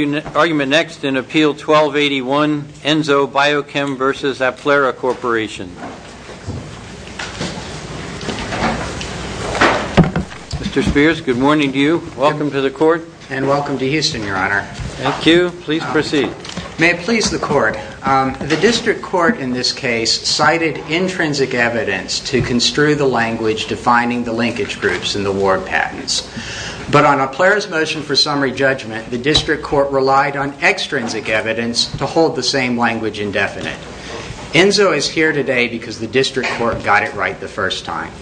Mr. Spears, good morning to you. Welcome to the court. And welcome to Houston, Your Honor. Thank you. Please proceed. May it please the court. The district court in this case cited intrinsic evidence to construe the language defining the linkage groups in the ward patents, but on Applera's motion for summary judgment, the district court ruled that the linkage groups in the ward patents did not constitute a linkage group. Thank you. Please proceed. The district court relied on extrinsic evidence to hold the same language indefinite. Enzo is here today because the district court got it right the first time.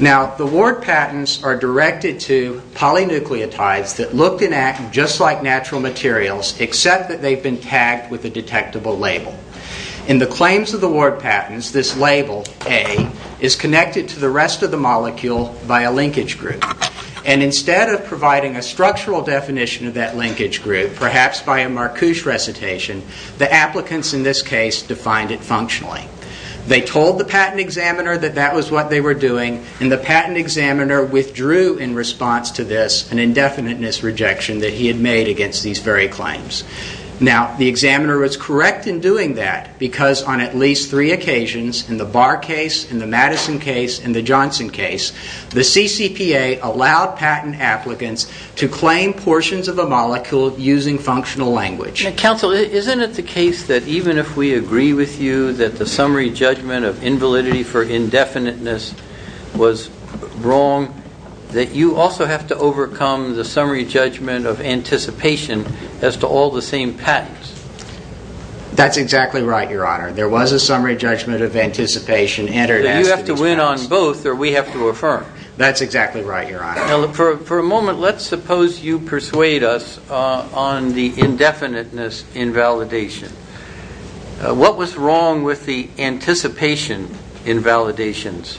Now, the ward patents are directed to polynucleotides that look and act just like natural materials, except that they've been tagged with a detectable label. In the claims of the ward patents, this label, A, is connected to the rest of the molecule by a linkage group. And instead of providing a structural definition of that linkage group, perhaps by a Marcouche recitation, the applicants in this case defined it functionally. They told the patent examiner that that was what they were doing, and the patent examiner withdrew in response to this an indefiniteness rejection that he had made against these very claims. Now, the examiner was correct in doing that because on at least three occasions, in the Barr case, in the Madison case, and the Johnson case, the CCPA allowed patent applicants to claim portions of the molecule using functional language. Counsel, isn't it the case that even if we agree with you that the summary judgment of invalidity for indefiniteness was wrong, that you also have to overcome the summary judgment of anticipation as to all the same patents? That's exactly right, Your Honor. There was a summary judgment of anticipation. You have to win on both, or we have to affirm. That's exactly right, Your Honor. Now, for a moment, let's suppose you persuade us on the indefiniteness invalidation. What was wrong with the anticipation invalidations?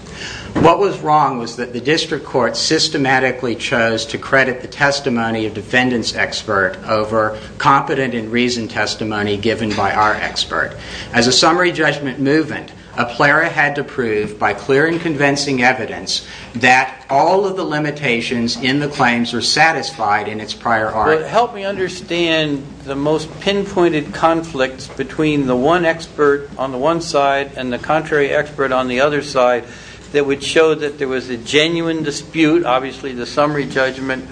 What was wrong was that the district court systematically chose to credit the testimony of defendant's expert over competent and reasoned testimony given by our expert. As a summary judgment movement, a plera had to prove by clear and convincing evidence that all of the limitations in the claims were satisfied in its prior art. Help me understand the most pinpointed conflicts between the one expert on the one side and the contrary expert on the other side that would show that there was a genuine dispute, obviously the summary judgment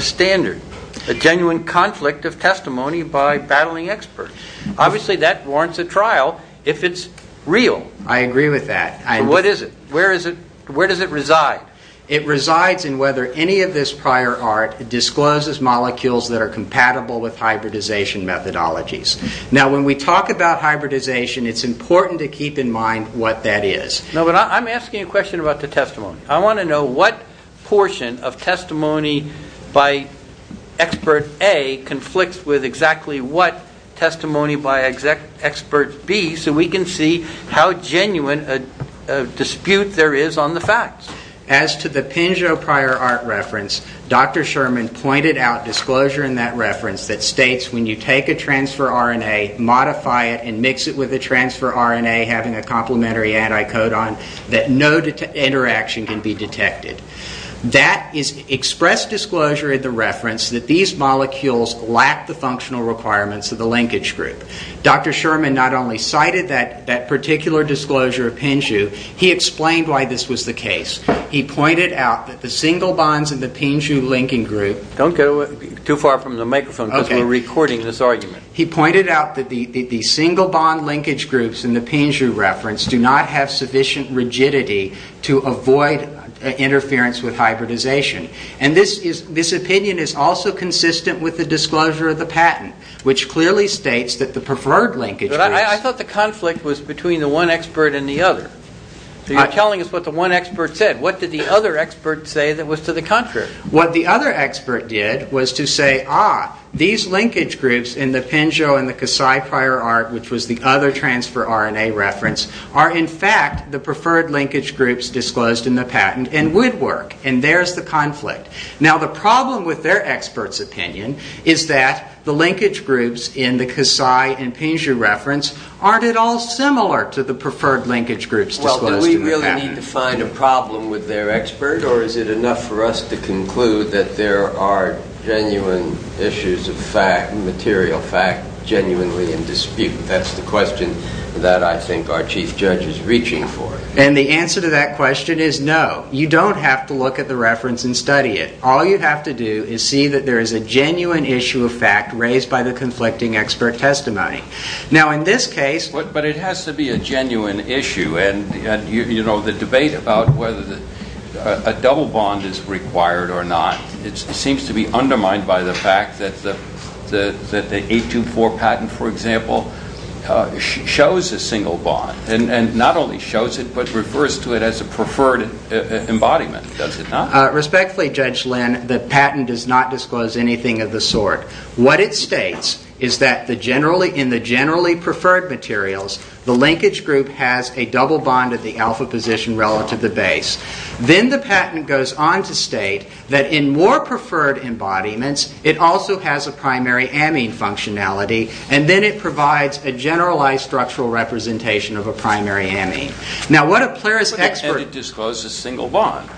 standard, a genuine conflict of testimony by battling expert. Obviously, that warrants a trial if it's real. I agree with that. What is it? Where does it reside? It resides in whether any of this prior art discloses molecules that are compatible with hybridization methodologies. Now, when we talk about hybridization, it's important to keep in mind what that is. I'm asking a question about the testimony. I want to know what portion of testimony by expert A conflicts with exactly what testimony by expert B so we can see how genuine a dispute there is on the facts. As to the PINJU prior art reference, Dr. Sherman pointed out disclosure in that reference that states when you take a transfer RNA, modify it, and mix it with a transfer RNA having a complementary anticodon, that no interaction can be detected. That is expressed disclosure in the reference that these molecules lack the functional requirements of the linkage group. Dr. Sherman not only cited that particular disclosure of PINJU, he explained why this was the case. He pointed out that the single bonds in the PINJU linking group... Don't go too far from the microphone because we're recording this argument. He pointed out that the single bond linkage groups in the PINJU reference do not have sufficient rigidity to avoid interference with hybridization. This opinion is also consistent with the disclosure of the patent, which clearly states that the preferred linkage groups... I thought the conflict was between the one expert and the other. You're telling us what the one expert said. What did the other expert say that was to the contrary? What the other expert did was to say, ah, these linkage groups in the PINJU and the CASI prior art, which was the other transfer RNA reference, are in fact the preferred linkage groups disclosed in the patent and would work. And there's the conflict. Now the problem with their expert's opinion is that the linkage groups in the CASI and PINJU reference aren't at all similar to the preferred linkage groups disclosed in the patent. Well, do we really need to find a problem with their expert or is it enough for us to conclude that there are genuine issues of fact, material fact, genuinely in dispute? That's the question that I think our chief judge is reaching for. And the answer to that question is no. You don't have to look at the reference and study it. All you have to do is see that there is a genuine issue of fact raised by the conflicting expert testimony. Now in this case... But it has to be a genuine issue. And, you know, the debate about whether a double bond is required or not, it seems to be undermined by the fact that the 824 patent, for example, shows a single bond. And not only shows it, but refers to it as a preferred embodiment, does it not? Respectfully, Judge Lynn, the patent does not disclose anything of the sort. What it states is that in the generally preferred materials, the linkage group has a double bond at the alpha position relative to base. Then the patent goes on to state that in more preferred embodiments, it also has a primary amine functionality. And then it provides a generalized structural representation of a primary amine. Now what a Plaris expert... And it discloses a single bond.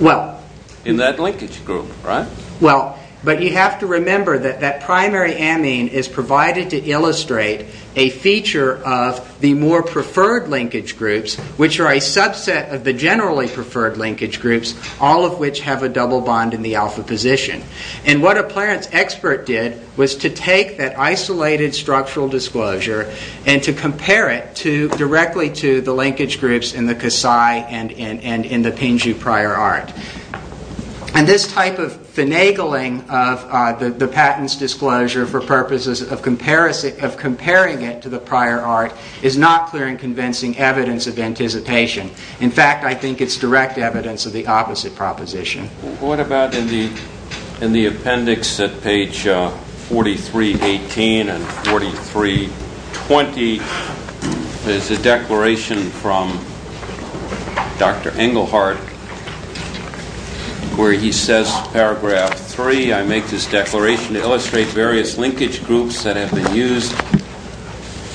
Well... In that linkage group, right? Well, but you have to remember that that primary amine is provided to illustrate a feature of the more preferred linkage groups, which are a subset of the generally preferred linkage groups, all of which have a double bond in the alpha position. And what a Plaris expert did was to take that isolated structural disclosure and to compare it directly to the linkage groups in the Kasai and in the Pingxu prior art. And this type of finagling of the patent's disclosure for purposes of comparing it to the prior art is not clear in convincing evidence of anticipation. In fact, I think it's direct evidence of the opposite proposition. What about in the appendix at page 4318 and 4320? There's a declaration from Dr. Engelhardt where he says, paragraph 3, I make this declaration to illustrate various linkage groups that have been used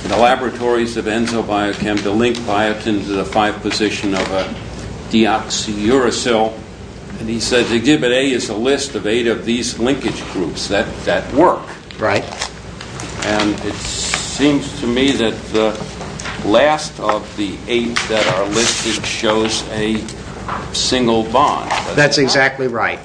in the laboratories of Enzo Biochem to link biotin to the 5-position of a deoxyuracil. And he says, exhibit A is a list of eight of these linkage groups that work. Right. And it seems to me that the last of the eight that are listed shows a single bond. That's exactly right.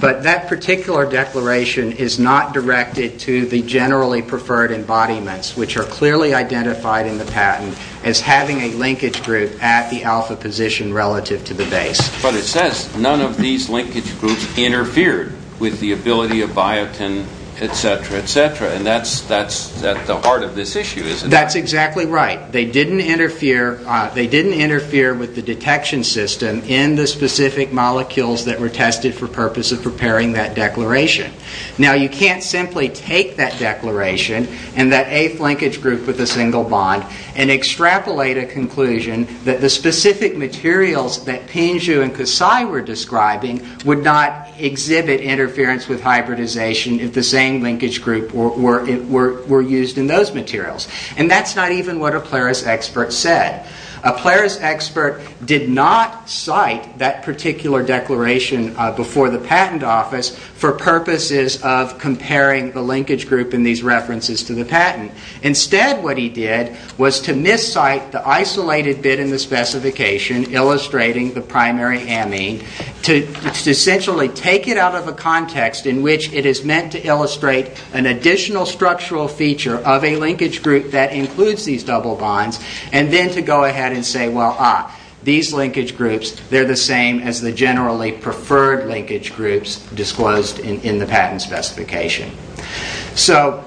But that particular declaration is not directed to the generally preferred embodiments, which are clearly identified in the patent as having a linkage group at the alpha position relative to the base. But it says none of these linkage groups interfered with the ability of biotin, etc., etc. And that's at the heart of this issue, isn't it? That's exactly right. They didn't interfere with the detection system in the specific molecules that were tested for purpose of preparing that declaration. Now, you can't simply take that declaration and that eighth linkage group with a single bond and extrapolate a conclusion that the specific materials that Pingiu and Kusai were describing would not exhibit interference with hybridization if the same linkage group were used in those materials. And that's not even what a Plaris expert said. A Plaris expert did not cite that particular declaration before the patent office for purposes of comparing the linkage group in these references to the patent. Instead, what he did was to miscite the isolated bit in the specification illustrating the primary amine to essentially take it out of a context in which it is meant to illustrate an additional structural feature of a linkage group that includes these double bonds and then to go ahead and say, well, ah, these linkage groups, they're the same as the generally preferred linkage groups disclosed in the patent specification. So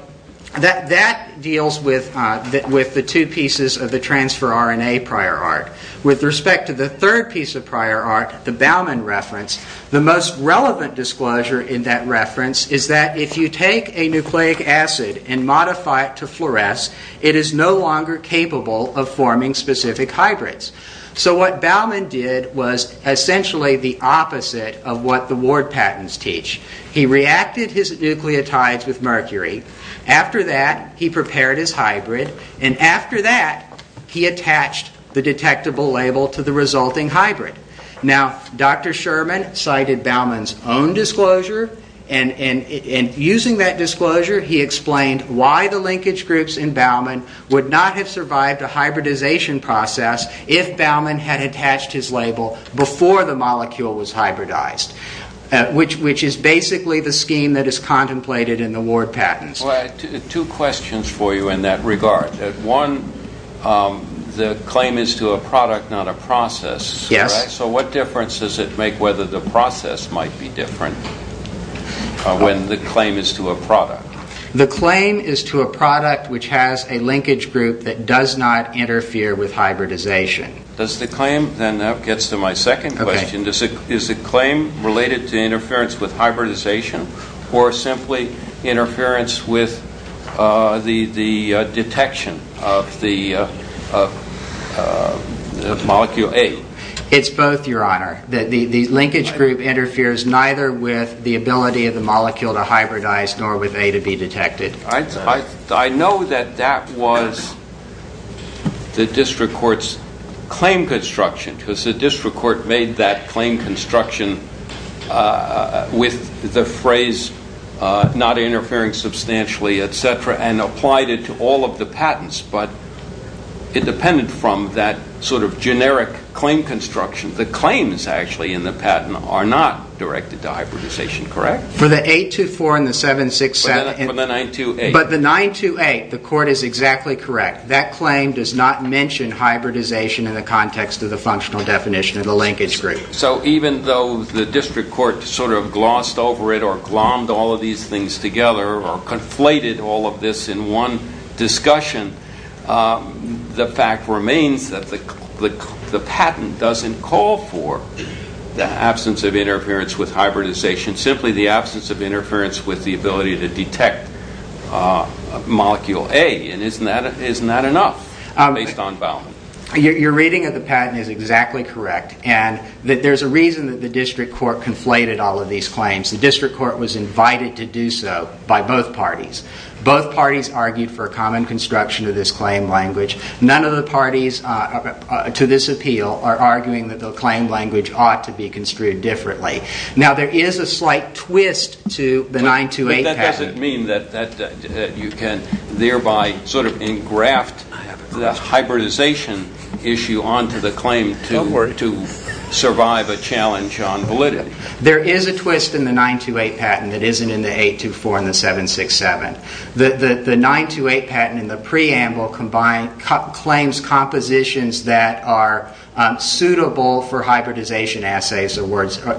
that deals with the two pieces of the transfer RNA prior art. With respect to the third piece of prior art, the Baumann reference, the most relevant disclosure in that reference is that if you take a nucleic acid and modify it to fluoresce, it is no longer capable of forming specific hybrids. So what Baumann did was essentially the opposite of what the Ward patents teach. He reacted his nucleotides with mercury. After that, he prepared his hybrid. And after that, he attached the detectable label to the resulting hybrid. Now, Dr. Sherman cited Baumann's own disclosure. And using that disclosure, he explained why the linkage groups in Baumann would not have survived a hybridization process if Baumann had attached his label before the molecule was hybridized. Which is basically the scheme that is contemplated in the Ward patents. Well, I have two questions for you in that regard. One, the claim is to a product, not a process. Yes. So what difference does it make whether the process might be different when the claim is to a product? The claim is to a product which has a linkage group that does not interfere with hybridization. That gets to my second question. Is the claim related to interference with hybridization or simply interference with the detection of the molecule A? It's both, Your Honor. The linkage group interferes neither with the ability of the molecule to hybridize nor with A to be detected. I know that that was the district court's claim construction. Because the district court made that claim construction with the phrase not interfering substantially, et cetera, and applied it to all of the patents. But independent from that sort of generic claim construction, the claims actually in the patent are not directed to hybridization, correct? For the 824 and the 767. For the 928. But the 928, the court is exactly correct. That claim does not mention hybridization in the context of the functional definition of the linkage group. So even though the district court sort of glossed over it or glommed all of these things together or conflated all of this in one discussion, the fact remains that the patent doesn't call for the absence of interference with hybridization, simply the absence of interference with the ability to detect molecule A. And isn't that enough based on Baumann? Your reading of the patent is exactly correct. And there's a reason that the district court conflated all of these claims. The district court was invited to do so by both parties. Both parties argued for a common construction of this claim language. None of the parties to this appeal are arguing that the claim language ought to be construed differently. Now, there is a slight twist to the 928 patent. Does that mean that you can thereby sort of engraft the hybridization issue onto the claim to survive a challenge on validity? There is a twist in the 928 patent that isn't in the 824 and the 767. The 928 patent in the preamble claims compositions that are suitable for hybridization assays or words to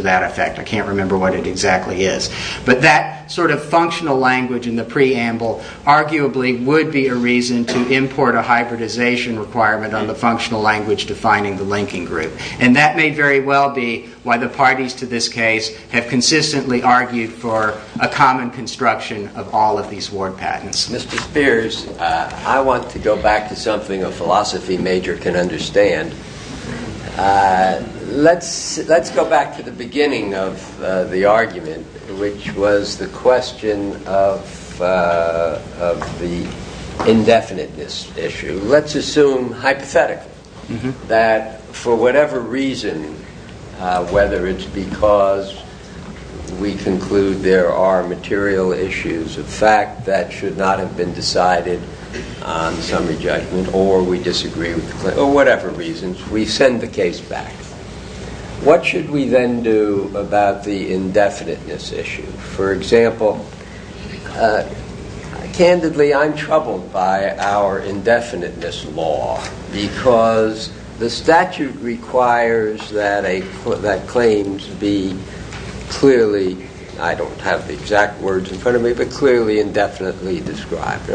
that effect. I can't remember what it exactly is. But that sort of functional language in the preamble arguably would be a reason to import a hybridization requirement on the functional language defining the linking group. And that may very well be why the parties to this case have consistently argued for a common construction of all of these ward patents. Mr. Spears, I want to go back to something a philosophy major can understand. Let's go back to the beginning of the argument, which was the question of the indefiniteness issue. Let's assume hypothetically that for whatever reason, whether it's because we conclude there are material issues of fact that should not have been decided on summary judgment or we disagree with the claim or whatever reasons, we send the case back. What should we then do about the indefiniteness issue? For example, candidly, I'm troubled by our indefiniteness law because the statute requires that claims be clearly, I don't have the exact words in front of me, but clearly indefinitely described.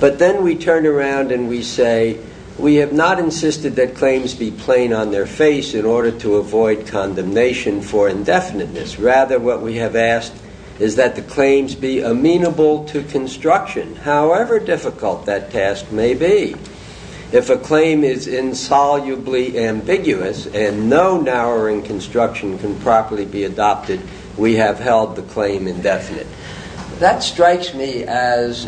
But then we turn around and we say, we have not insisted that claims be plain on their face in order to avoid condemnation for indefiniteness. Rather, what we have asked is that the claims be amenable to construction, however difficult that task may be. If a claim is insolubly ambiguous and no narrowing construction can properly be adopted, we have held the claim indefinite. That strikes me as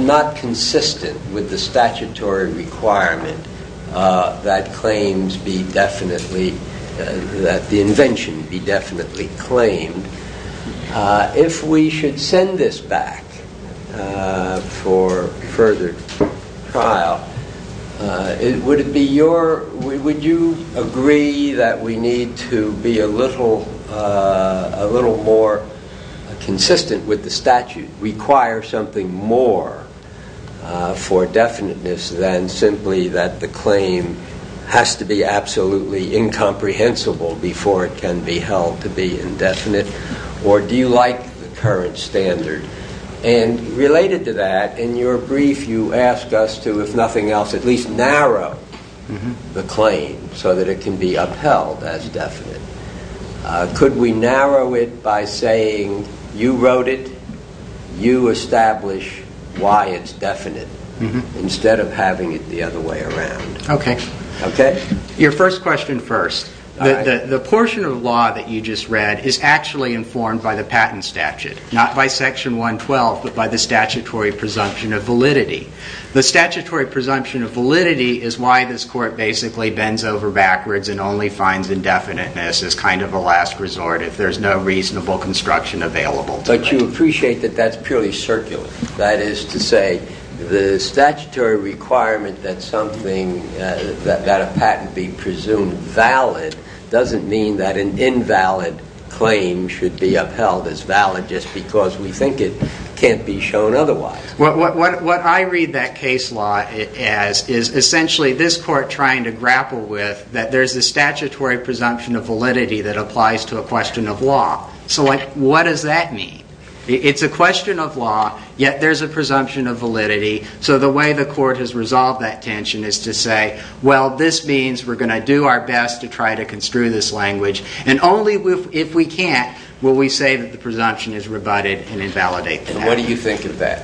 not consistent with the statutory requirement that the invention be definitely claimed. If we should send this back for further trial, would you agree that we need to be a little more consistent with the statute, or do you require something more for definiteness than simply that the claim has to be absolutely incomprehensible before it can be held to be indefinite? Or do you like the current standard? And related to that, in your brief you ask us to, if nothing else, at least narrow the claim so that it can be upheld as definite. Could we narrow it by saying, you wrote it, you establish why it's definite, instead of having it the other way around? Okay. Your first question first. The portion of law that you just read is actually informed by the patent statute, not by Section 112, but by the statutory presumption of validity. The statutory presumption of validity is why this court basically bends over backwards and only finds indefiniteness as kind of a last resort if there's no reasonable construction available. But you appreciate that that's purely circular. That is to say, the statutory requirement that a patent be presumed valid doesn't mean that an invalid claim should be upheld as valid just because we think it can't be shown otherwise. What I read that case law as is essentially this court trying to grapple with that there's a statutory presumption of validity that applies to a question of law. So what does that mean? It's a question of law, yet there's a presumption of validity. So the way the court has resolved that tension is to say, well, this means we're going to do our best to try to construe this language. And only if we can't will we say that the presumption is rebutted and invalidate that. What do you think of that?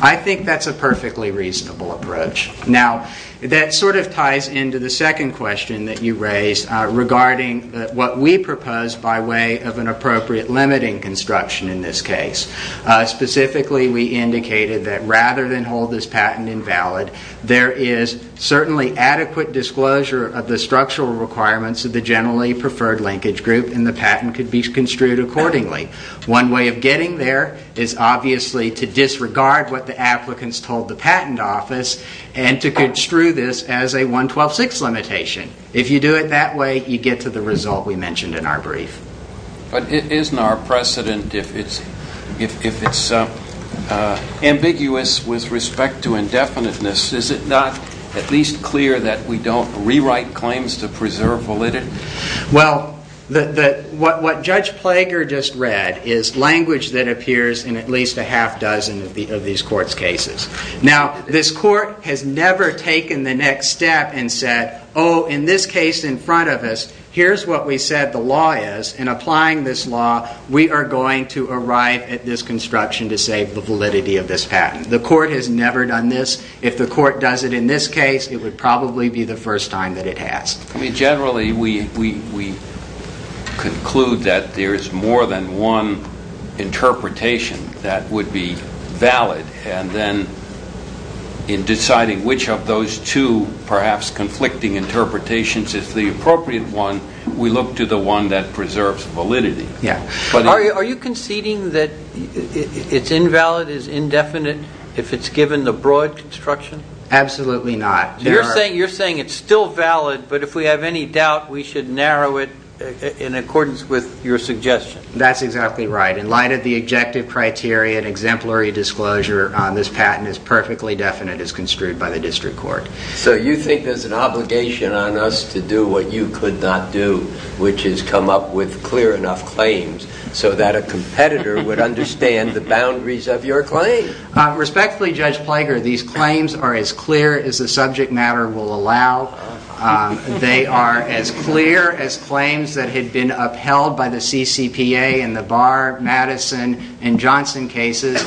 I think that's a perfectly reasonable approach. Now, that sort of ties into the second question that you raised regarding what we propose by way of an appropriate limiting construction in this case. Specifically, we indicated that rather than hold this patent invalid, there is certainly adequate disclosure of the structural requirements of the generally preferred linkage group and the patent could be construed accordingly. One way of getting there is obviously to disregard what the applicants told the patent office and to construe this as a 112.6 limitation. If you do it that way, you get to the result we mentioned in our brief. But isn't our precedent, if it's ambiguous with respect to indefiniteness, is it not at least clear that we don't rewrite claims to preserve validity? Well, what Judge Plager just read is language that appears in at least a half dozen of these courts' cases. Now, this court has never taken the next step and said, oh, in this case in front of us, here's what we said the law is. In applying this law, we are going to arrive at this construction to save the validity of this patent. The court has never done this. If the court does it in this case, it would probably be the first time that it has. Generally, we conclude that there is more than one interpretation that would be valid. And then in deciding which of those two perhaps conflicting interpretations is the appropriate one, we look to the one that preserves validity. Are you conceding that it's invalid, it's indefinite if it's given the broad construction? Absolutely not. You're saying it's still valid, but if we have any doubt, we should narrow it in accordance with your suggestion. That's exactly right. In light of the objective criteria and exemplary disclosure, this patent is perfectly definite as construed by the district court. So you think there's an obligation on us to do what you could not do, which is come up with clear enough claims so that a competitor would understand the boundaries of your claim? Respectfully, Judge Plager, these claims are as clear as the subject matter will allow. They are as clear as claims that had been upheld by the CCPA in the Barr, Madison, and Johnson cases.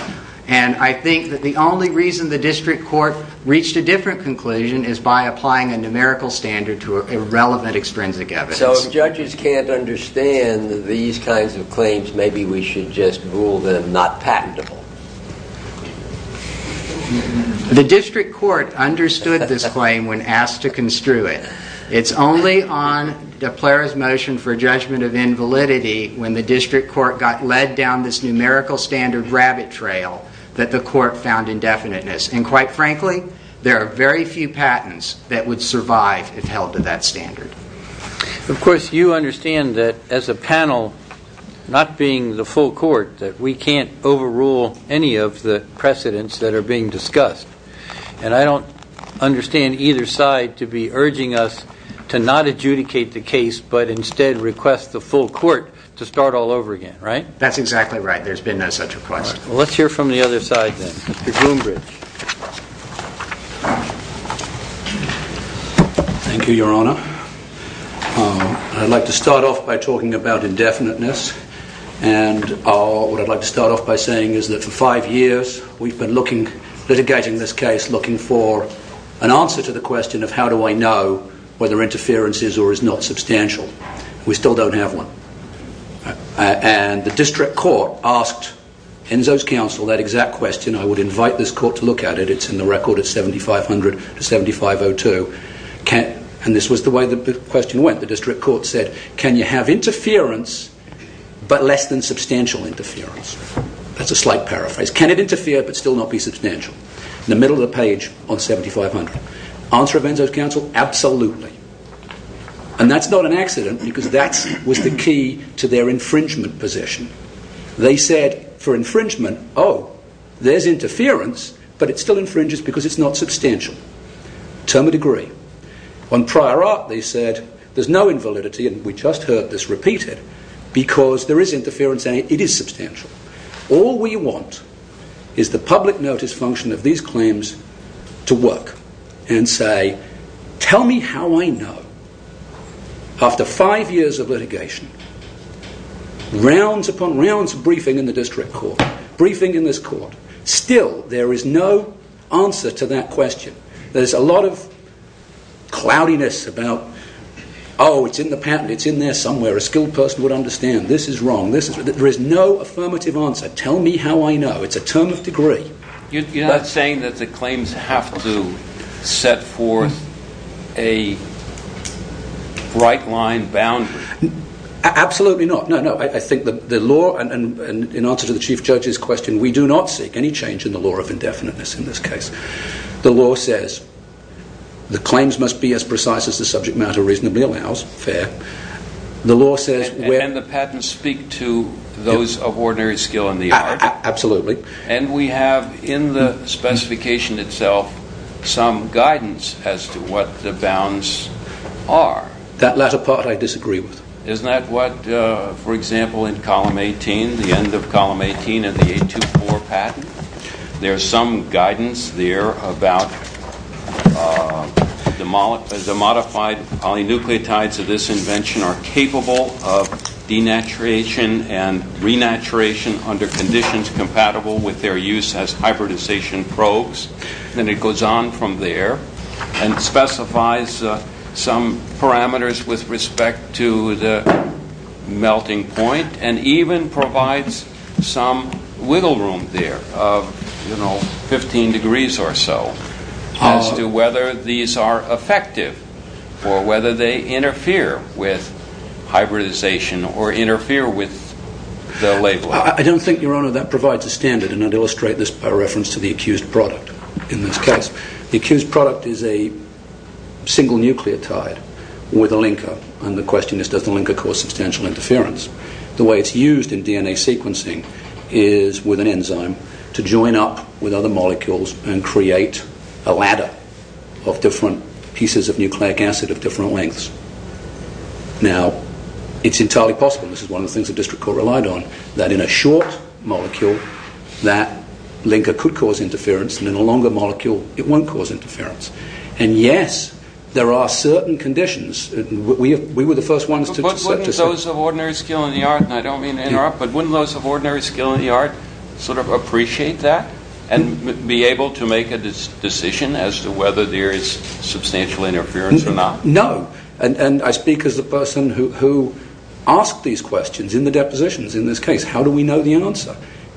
And I think that the only reason the district court reached a different conclusion is by applying a numerical standard to irrelevant extrinsic evidence. So if judges can't understand these kinds of claims, maybe we should just rule them not patentable. The district court understood this claim when asked to construe it. It's only on de Plager's motion for judgment of invalidity when the district court got led down this numerical standard rabbit trail that the court found indefiniteness. And quite frankly, there are very few patents that would survive if held to that standard. Of course, you understand that as a panel, not being the full court, that we can't overrule any of the precedents that are being discussed. And I don't understand either side to be urging us to not adjudicate the case but instead request the full court to start all over again, right? That's exactly right. There's been no such request. Let's hear from the other side then. Mr. Groombridge. Thank you, Your Honor. I'd like to start off by talking about indefiniteness. And what I'd like to start off by saying is that for five years, we've been looking, litigating this case, looking for an answer to the question of how do I know whether interference is or is not substantial. We still don't have one. And the district court asked Enzo's counsel that exact question. I would invite this court to look at it. It's in the record at 7500 to 7502. And this was the way the question went. The district court said, can you have interference but less than substantial interference? That's a slight paraphrase. Can it interfere but still not be substantial? In the middle of the page on 7500. Answer of Enzo's counsel, absolutely. And that's not an accident because that was the key to their infringement position. They said for infringement, oh, there's interference but it still infringes because it's not substantial. Term and degree. On prior art, they said there's no invalidity, and we just heard this repeated, because there is interference and it is substantial. All we want is the public notice function of these claims to work and say, tell me how I know. After five years of litigation, rounds upon rounds of briefing in the district court, briefing in this court, still there is no answer to that question. There's a lot of cloudiness about, oh, it's in the patent. It's in there somewhere. A skilled person would understand. This is wrong. This is wrong. There is no affirmative answer. Tell me how I know. It's a term of degree. You're not saying that the claims have to set forth a right-line boundary? Absolutely not. No, no. I think the law, and in answer to the Chief Judge's question, we do not seek any change in the law of indefiniteness in this case. And the patents speak to those of ordinary skill in the art? Absolutely. And we have in the specification itself some guidance as to what the bounds are? That latter part I disagree with. Isn't that what, for example, in Column 18, the end of Column 18 of the 824 patent, there's some guidance there about the modified polynucleotides of this invention are capable of denaturation and renaturation under conditions compatible with their use as hybridization probes? And it goes on from there and specifies some parameters with respect to the melting point and even provides some wiggle room there of, you know, 15 degrees or so as to whether these are effective or whether they interfere with hybridization or interfere with the label. I don't think, Your Honour, that provides a standard and I'd illustrate this by reference to the accused product in this case. The accused product is a single nucleotide with a linker and the question is does the linker cause substantial interference? The way it's used in DNA sequencing is with an enzyme to join up with other molecules and create a ladder of different pieces of nucleic acid of different lengths. Now, it's entirely possible, and this is one of the things the District Court relied on, that in a short molecule that linker could cause interference and in a longer molecule it won't cause interference. And yes, there are certain conditions. We were the first ones to... But wouldn't those of ordinary skill in the art, and I don't mean to interrupt, but wouldn't those of ordinary skill in the art sort of appreciate that and be able to make a decision as to whether there is substantial interference or not? No, and I speak as the person who asked these questions in the depositions in this case. How do we know the answer?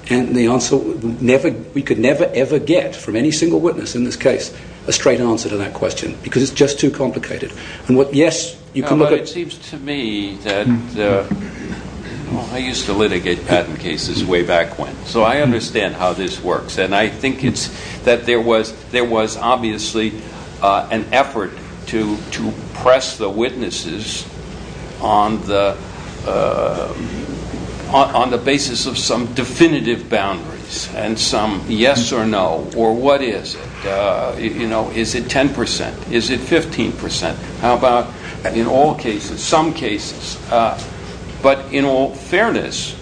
And the answer we could never, ever get from any single witness in this case, a straight answer to that question because it's just too complicated. Yes, you can look at... It seems to me that I used to litigate patent cases way back when, so I understand how this works. And I think it's that there was obviously an effort to press the witnesses on the basis of some definitive boundaries and some yes or no, or what is it? Is it 10 percent? Is it 15 percent? How about in all cases, some cases? But in all fairness,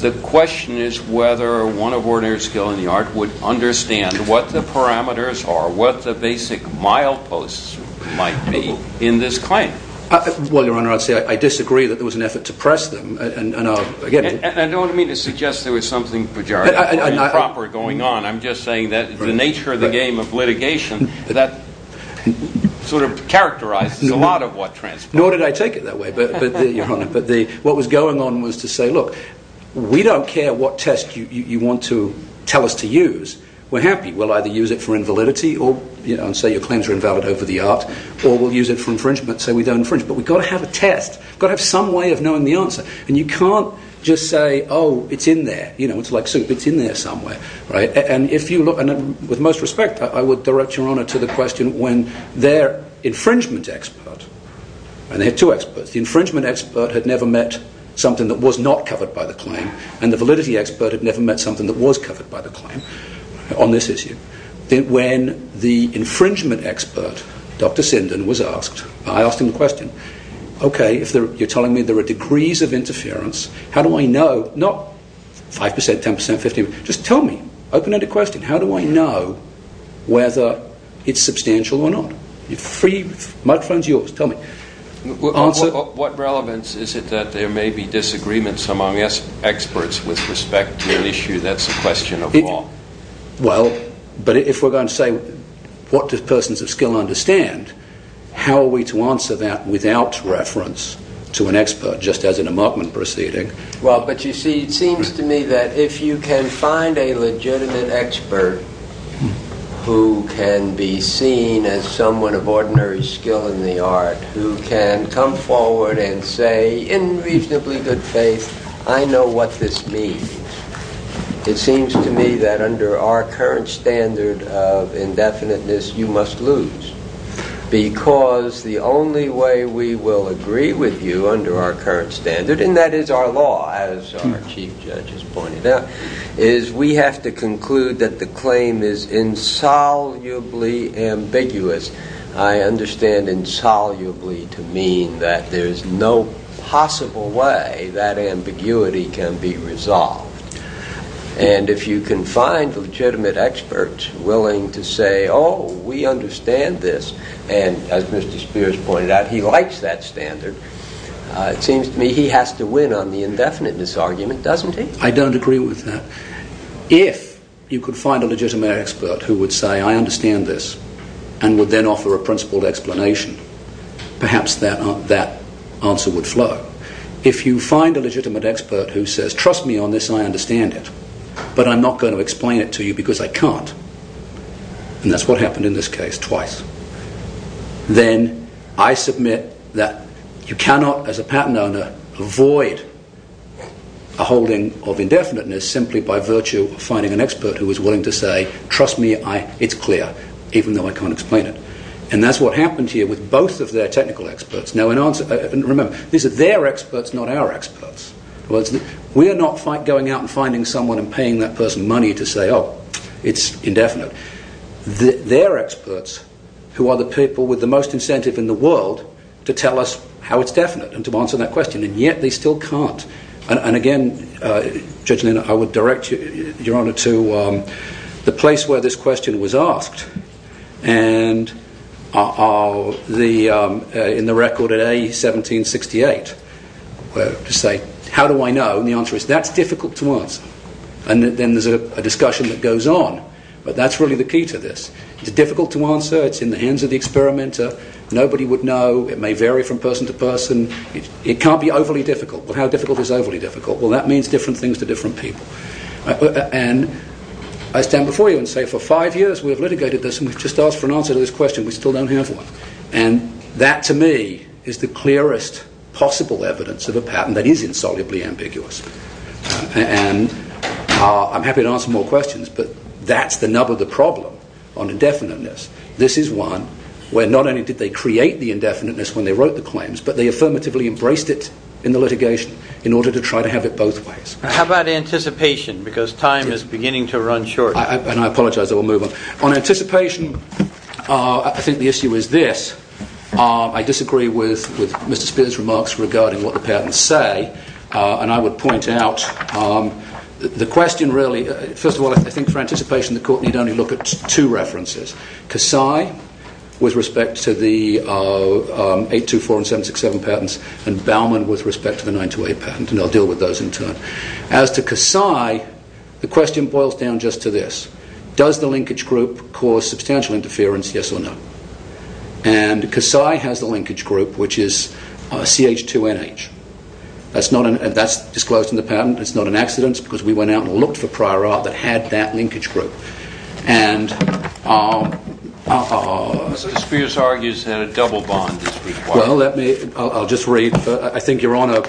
the question is whether one of ordinary skill in the art would understand what the parameters are, what the basic mileposts might be in this claim. Well, Your Honor, I'd say I disagree that there was an effort to press them. And I don't mean to suggest there was something pejorative or improper going on. I'm just saying that the nature of the game of litigation, that sort of characterizes a lot of what transpired. Nor did I take it that way, Your Honor. But what was going on was to say, look, we don't care what test you want to tell us to use. We're happy. We'll either use it for invalidity and say your claims are invalid over the art, or we'll use it for infringement and say we don't infringe. But we've got to have a test. We've got to have some way of knowing the answer. And you can't just say, oh, it's in there. It's like soup. It's in there somewhere. And with most respect, I would direct Your Honor to the question when their infringement expert, and they had two experts. The infringement expert had never met something that was not covered by the claim, and the validity expert had never met something that was covered by the claim on this issue. When the infringement expert, Dr. Sindon, was asked, I asked him the question, okay, you're telling me there are degrees of interference. How do I know? Not 5%, 10%, 15%. Just tell me. Open end of question. How do I know whether it's substantial or not? The microphone's yours. Tell me. What relevance is it that there may be disagreements among experts with respect to an issue? That's a question of law. Well, but if we're going to say what do persons of skill understand, how are we to answer that without reference to an expert just as in a markman proceeding? Well, but you see, it seems to me that if you can find a legitimate expert who can be seen as someone of ordinary skill in the art, who can come forward and say, in reasonably good faith, I know what this means. It seems to me that under our current standard of indefiniteness, you must lose. Because the only way we will agree with you under our current standard, and that is our law, as our chief judge has pointed out, is we have to conclude that the claim is insolubly ambiguous. I understand insolubly to mean that there is no possible way that ambiguity can be resolved. And if you can find legitimate experts willing to say, oh, we understand this, and as Mr. Spears pointed out, he likes that standard, it seems to me he has to win on the indefiniteness argument, doesn't he? I don't agree with that. If you could find a legitimate expert who would say, I understand this, and would then offer a principled explanation, perhaps that answer would flow. If you find a legitimate expert who says, trust me on this, I understand it, but I'm not going to explain it to you because I can't, and that's what happened in this case twice, then I submit that you cannot, as a patent owner, avoid a holding of indefiniteness simply by virtue of finding an expert who is willing to say, trust me, it's clear, even though I can't explain it. And that's what happened here with both of their technical experts. Remember, these are their experts, not our experts. We are not going out and finding someone and paying that person money to say, oh, it's indefinite. They're experts who are the people with the most incentive in the world to tell us how it's definite and to answer that question, and yet they still can't. And again, Judge Lynn, I would direct Your Honour to the place where this question was asked, and in the record at A, 1768, to say, how do I know? And the answer is, that's difficult to answer. And then there's a discussion that goes on, but that's really the key to this. It's difficult to answer. It's in the hands of the experimenter. Nobody would know. It may vary from person to person. It can't be overly difficult. Well, how difficult is overly difficult? Well, that means different things to different people. And I stand before you and say, for five years we have litigated this, and we've just asked for an answer to this question. We still don't have one. And that, to me, is the clearest possible evidence of a patent that is insolubly ambiguous. And I'm happy to answer more questions, but that's the nub of the problem on indefiniteness. This is one where not only did they create the indefiniteness when they wrote the claims, but they affirmatively embraced it in the litigation in order to try to have it both ways. How about anticipation? Because time is beginning to run short. And I apologize. I will move on. On anticipation, I think the issue is this. I disagree with Mr. Spear's remarks regarding what the patents say, and I would point out the question really, first of all, I think for anticipation, the court need only look at two references, Kasai with respect to the 824 and 767 patents and Baumann with respect to the 928 patent, and I'll deal with those in turn. As to Kasai, the question boils down just to this. Does the linkage group cause substantial interference, yes or no? And Kasai has the linkage group, which is CH2NH. That's disclosed in the patent. It's not an accident because we went out and looked for prior art that had that linkage group. Mr. Spear argues that a double bond is required. Well, I'll just read. I think Your Honor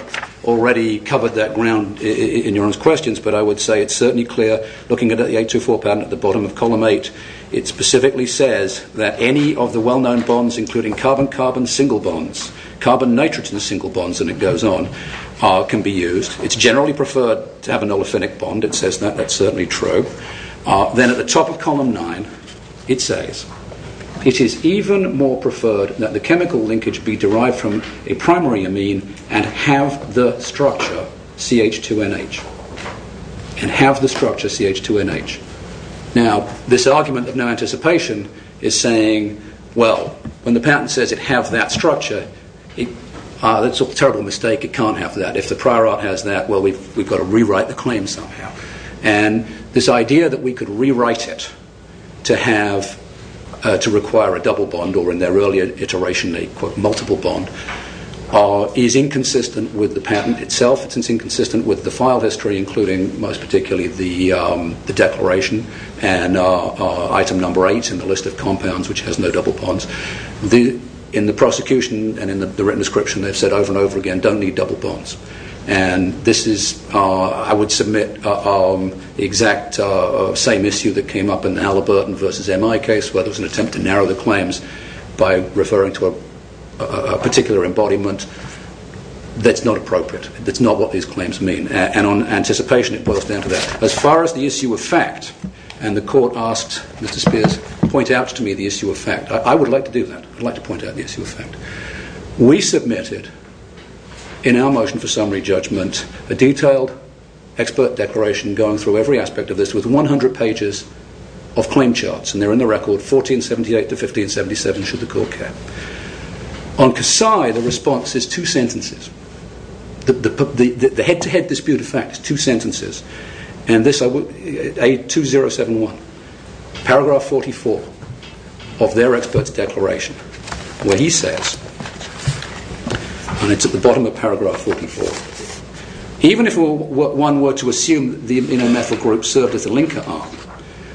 already covered that ground in Your Honor's questions, but I would say it's certainly clear looking at the 824 patent at the bottom of Column 8, it specifically says that any of the well-known bonds including carbon-carbon single bonds, carbon-nitrogen single bonds, and it goes on, can be used. It's generally preferred to have an olefinic bond. It says that. That's certainly true. Then at the top of Column 9, it says, it is even more preferred that the chemical linkage be derived from a primary amine and have the structure CH2NH. And have the structure CH2NH. Now, this argument of no anticipation is saying, well, when the patent says it have that structure, that's a terrible mistake. It can't have that. If the prior art has that, well, we've got to rewrite the claim somehow. And this idea that we could rewrite it to require a double bond or in their earlier iteration a multiple bond is inconsistent with the patent itself. It's inconsistent with the file history including most particularly the declaration and item number 8 in the list of compounds which has no double bonds. In the prosecution and in the written description, they've said over and over again, don't need double bonds. And this is, I would submit, the exact same issue that came up in the Halliburton v. MI case where there was an attempt to narrow the claims by referring to a particular embodiment. That's not appropriate. That's not what these claims mean. And on anticipation, it boils down to that. As far as the issue of fact, and the court asked Mr. Spears to point out to me the issue of fact. I would like to do that. I'd like to point out the issue of fact. We submitted, in our motion for summary judgment, a detailed expert declaration going through every aspect of this with 100 pages of claim charts. And they're in the record, 1478 to 1577, should the court care. On Kasai, the response is two sentences. The head-to-head dispute of fact is two sentences. And this, A2071, paragraph 44 of their expert's declaration where he says, and it's at the bottom of paragraph 44, even if one were to assume the aminomethyl group served as a linker arm,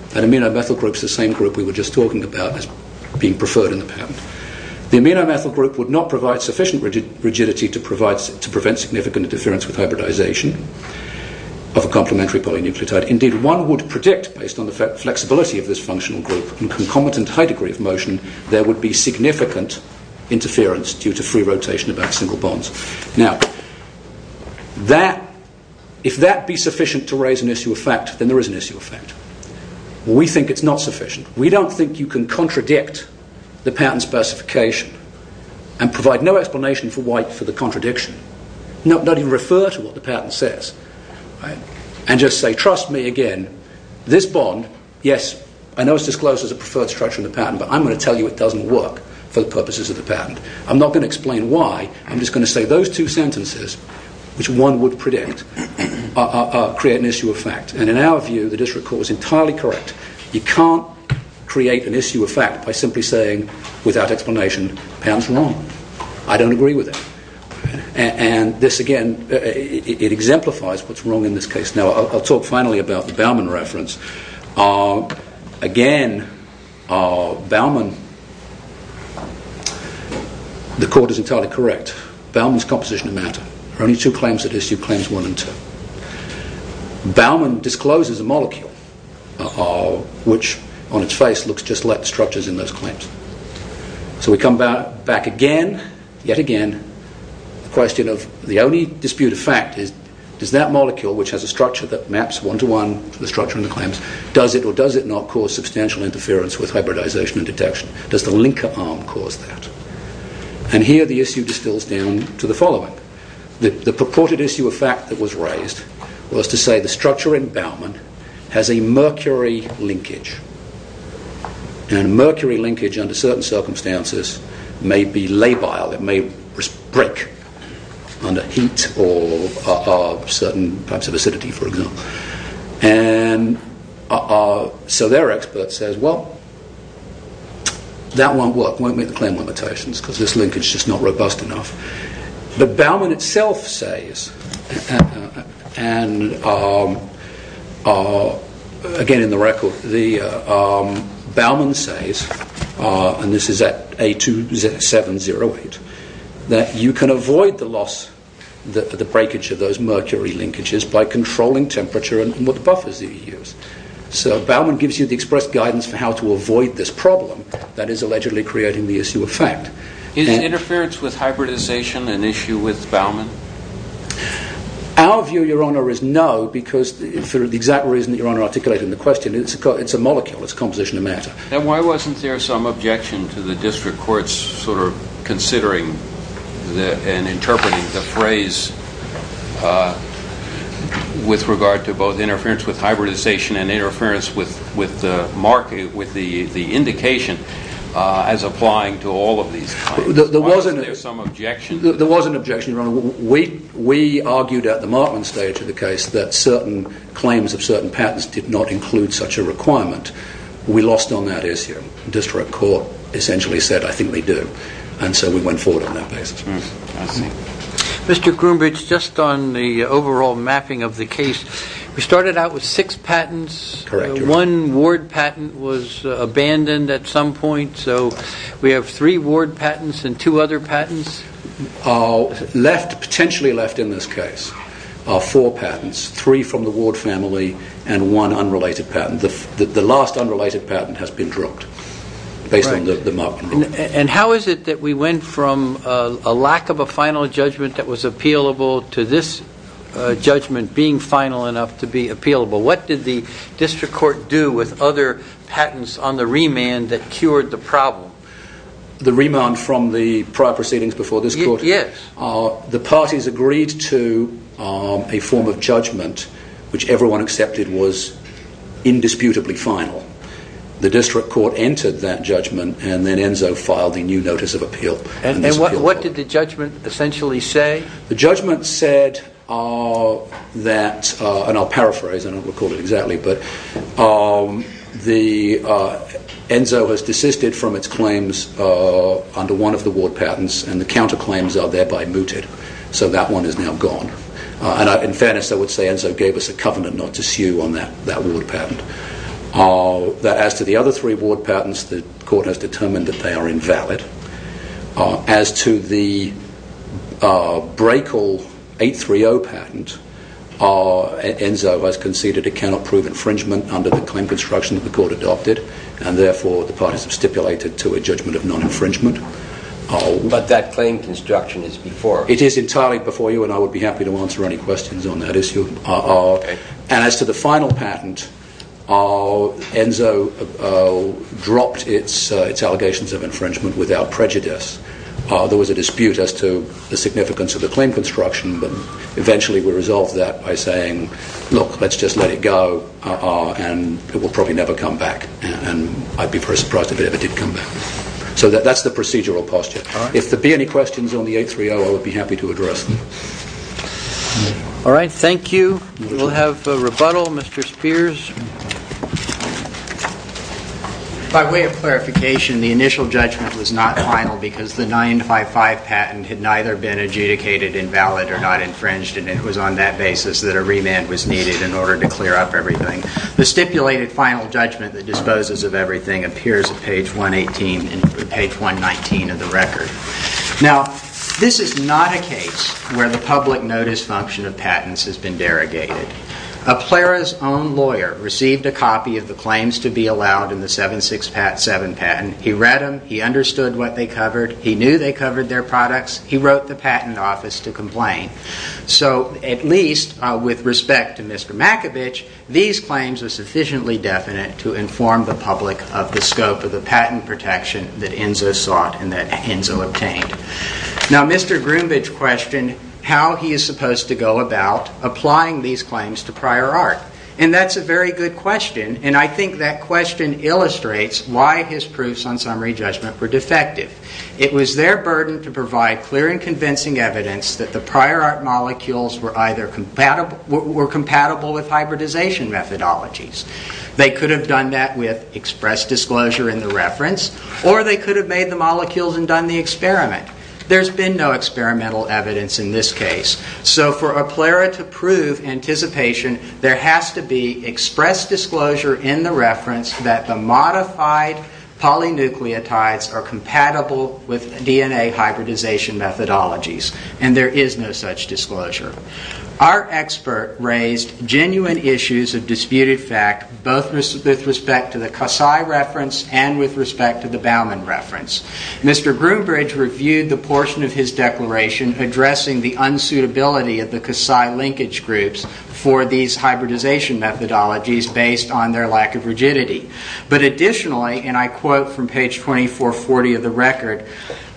that aminomethyl group's the same group we were just talking about as being preferred in the patent, the aminomethyl group would not provide sufficient rigidity to prevent significant interference with hybridization of a complementary polynucleotide. Indeed, one would predict, and concomitant high degree of motion, there would be significant interference due to free rotation about single bonds. Now, if that be sufficient to raise an issue of fact, then there is an issue of fact. We think it's not sufficient. We don't think you can contradict the patent specification and provide no explanation for the contradiction. Not even refer to what the patent says and just say, trust me again, this bond, yes, I know it's disclosed as a preferred structure in the patent, but I'm going to tell you it doesn't work for the purposes of the patent. I'm not going to explain why. I'm just going to say those two sentences, which one would predict, create an issue of fact. And in our view, the district court was entirely correct. You can't create an issue of fact by simply saying, without explanation, patent's wrong. I don't agree with that. And this, again, it exemplifies what's wrong in this case. Now, I'll talk finally about the Bauman reference. Again, Bauman, the court is entirely correct. Bauman's composition of matter. There are only two claims that issue claims one and two. Bauman discloses a molecule, which on its face looks just like the structures in those claims. So we come back again, yet again, the question of the only dispute of fact is, is that molecule, which has a structure that maps one-to-one to the structure in the claims, does it or does it not cause substantial interference with hybridization and detection? Does the linker arm cause that? And here, the issue distills down to the following. The purported issue of fact that was raised was to say the structure in Bauman has a mercury linkage. And mercury linkage, under certain circumstances, may be labile. It may break under heat or certain types of acidity, for example. And so their expert says, well, that won't work, won't meet the claim limitations because this linkage is just not robust enough. But Bauman itself says, and again in the record, Bauman says, and this is at A2708, that you can avoid the loss, the breakage of those mercury linkages by controlling temperature and what buffers you use. So Bauman gives you the express guidance for how to avoid this problem that is allegedly creating the issue of fact. Is interference with hybridization an issue with Bauman? Our view, Your Honour, is no because for the exact reason that Your Honour articulated in the question, it's a molecule, it's a composition of matter. Then why wasn't there some objection to the district courts sort of considering and interpreting the phrase with regard to both interference with hybridization and interference with the indication as applying to all of these claims? Why wasn't there some objection? There was an objection, Your Honour. We argued at the markman stage of the case that certain claims of certain patents did not include such a requirement. We lost on that issue. The district court essentially said I think they do and so we went forward on that basis. Mr. Groombridge, just on the overall mapping of the case, we started out with six patents. One ward patent was abandoned at some point so we have three ward patents and two other patents. Potentially left in this case are four patents, three from the ward family and one unrelated patent. The last unrelated patent has been dropped based on the markman rule. How is it that we went from a lack of a final judgment that was appealable to this judgment being final enough to be appealable? What did the district court do with other patents on the remand that cured the problem? The remand from the prior proceedings before this court? Yes. The parties agreed to a form of judgment which everyone accepted was indisputably final. The district court entered that judgment and then ENSO filed the new notice of appeal. What did the judgment essentially say? The judgment said that, and I'll paraphrase, I don't recall it exactly, but ENSO has desisted from its claims under one of the ward patents and the counterclaims are thereby mooted so that one is now gone. In fairness, I would say ENSO gave us a covenant not to sue on that ward patent. As to the other three ward patents, the court has determined that they are invalid. As to the Braekel 830 patent, ENSO has conceded it cannot prove infringement under the claim construction that the court adopted and therefore the parties have stipulated But that claim construction is before us. As to the final patent, ENSO dropped its allegations of infringement without prejudice. There was a dispute as to the significance of the claim construction but eventually we resolved that by saying, look, let's just let it go and it will probably never come back and I'd be very surprised if it ever did come back. So that's the procedural posture. If there be any questions on the 830, I would be happy to address them. All right, thank you. We'll have a rebuttal. Mr. Spears. By way of clarification, the initial judgment was not final because the 955 patent had neither been adjudicated invalid or not infringed and it was on that basis that a remand was needed in order to clear up everything. The stipulated final judgment that disposes of everything appears at page 118 and page 119 of the record. Now, this is not a case where the public notice function of patents has been derogated. A Plera's own lawyer received a copy of the claims to be allowed in the 767 patent. He read them. He understood what they covered. He knew they covered their products. He wrote the patent office to complain. So at least with respect to Mr. Makovich, these claims are sufficiently definite to inform the public of the scope of the patent protection that ENSO sought and that ENSO obtained. Now, Mr. Groombage questioned how he is supposed to go about applying these claims to prior art and that's a very good question and I think that question illustrates why his proofs on summary judgment were defective. It was their burden to provide clear and convincing evidence that the prior art molecules were either compatible with hybridization methodologies. They could have done that with express disclosure in the reference or they could have made the molecules and done the experiment. There's been no experimental evidence in this case. So for a PLERA to prove anticipation, there has to be express disclosure in the reference that the modified polynucleotides are compatible with DNA hybridization methodologies and there is no such disclosure. Our expert raised genuine issues of disputed fact both with respect to the Casai reference and with respect to the Baumann reference. Mr. Groombridge reviewed the portion of his declaration addressing the unsuitability of the Casai linkage groups for these hybridization methodologies based on their lack of rigidity. But additionally, and I quote from page 2440 of the record,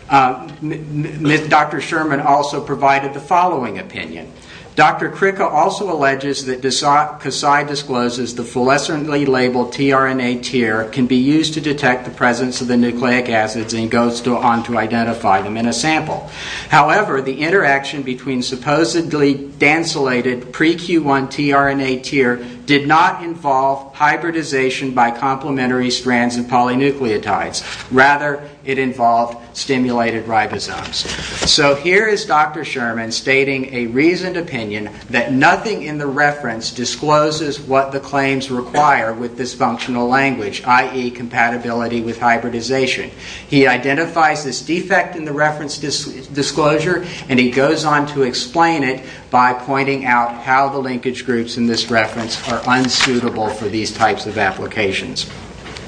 Dr. Sherman also provided the following opinion. Dr. Kricka also alleges that Casai discloses the fluorescently labeled tRNA tier can be used to detect the presence of the nucleic acids and goes on to identify them in a sample. However, the interaction between supposedly densulated pre-Q1 tRNA tier did not involve hybridization by complementary strands of polynucleotides. Rather, it involved stimulated ribosomes. So here is Dr. Sherman stating a reasoned opinion that nothing in the reference discloses what the claims require with this functional language, i.e., compatibility with hybridization. He identifies this defect in the reference disclosure and he goes on to explain it by pointing out how the linkage groups in this reference are unsuitable for these types of applications.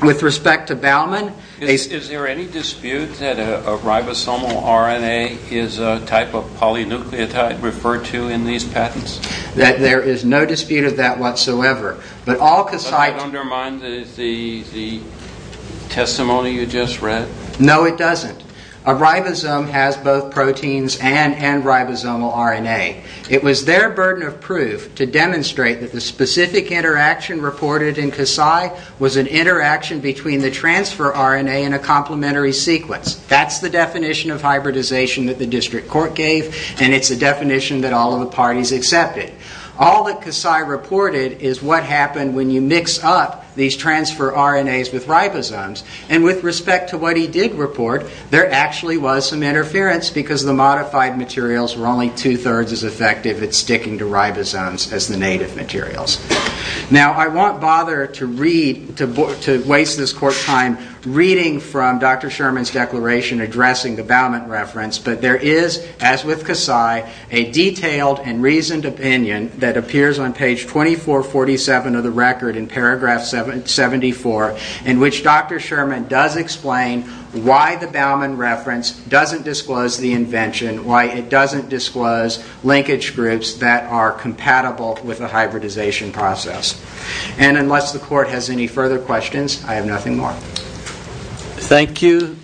With respect to Baumann, is there any dispute that a ribosomal RNA is a type of polynucleotide referred to in these patents? There is no dispute of that whatsoever. But that undermines the testimony you just read? No, it doesn't. A ribosome has both proteins and ribosomal RNA. It was their burden of proof to demonstrate that the specific interaction reported in CASI was an interaction between the transfer RNA and a complementary sequence. That's the definition of hybridization that the district court gave and it's a definition that all of the parties accepted. All that CASI reported is what happened when you mix up these transfer RNAs with ribosomes. With respect to what he did report, there actually was some interference because the modified materials were only two-thirds as effective at sticking to ribosomes as the native materials. Now, I won't bother to waste this court's time reading from Dr. Sherman's declaration addressing the Baumann reference, but there is, as with CASI, a detailed and reasoned opinion that appears on page 2447 of the record in paragraph 74 in which Dr. Sherman does explain why the Baumann reference doesn't disclose the invention, why it doesn't disclose linkage groups that are compatible with the hybridization process. And unless the court has any further questions, I have nothing more. Thank you.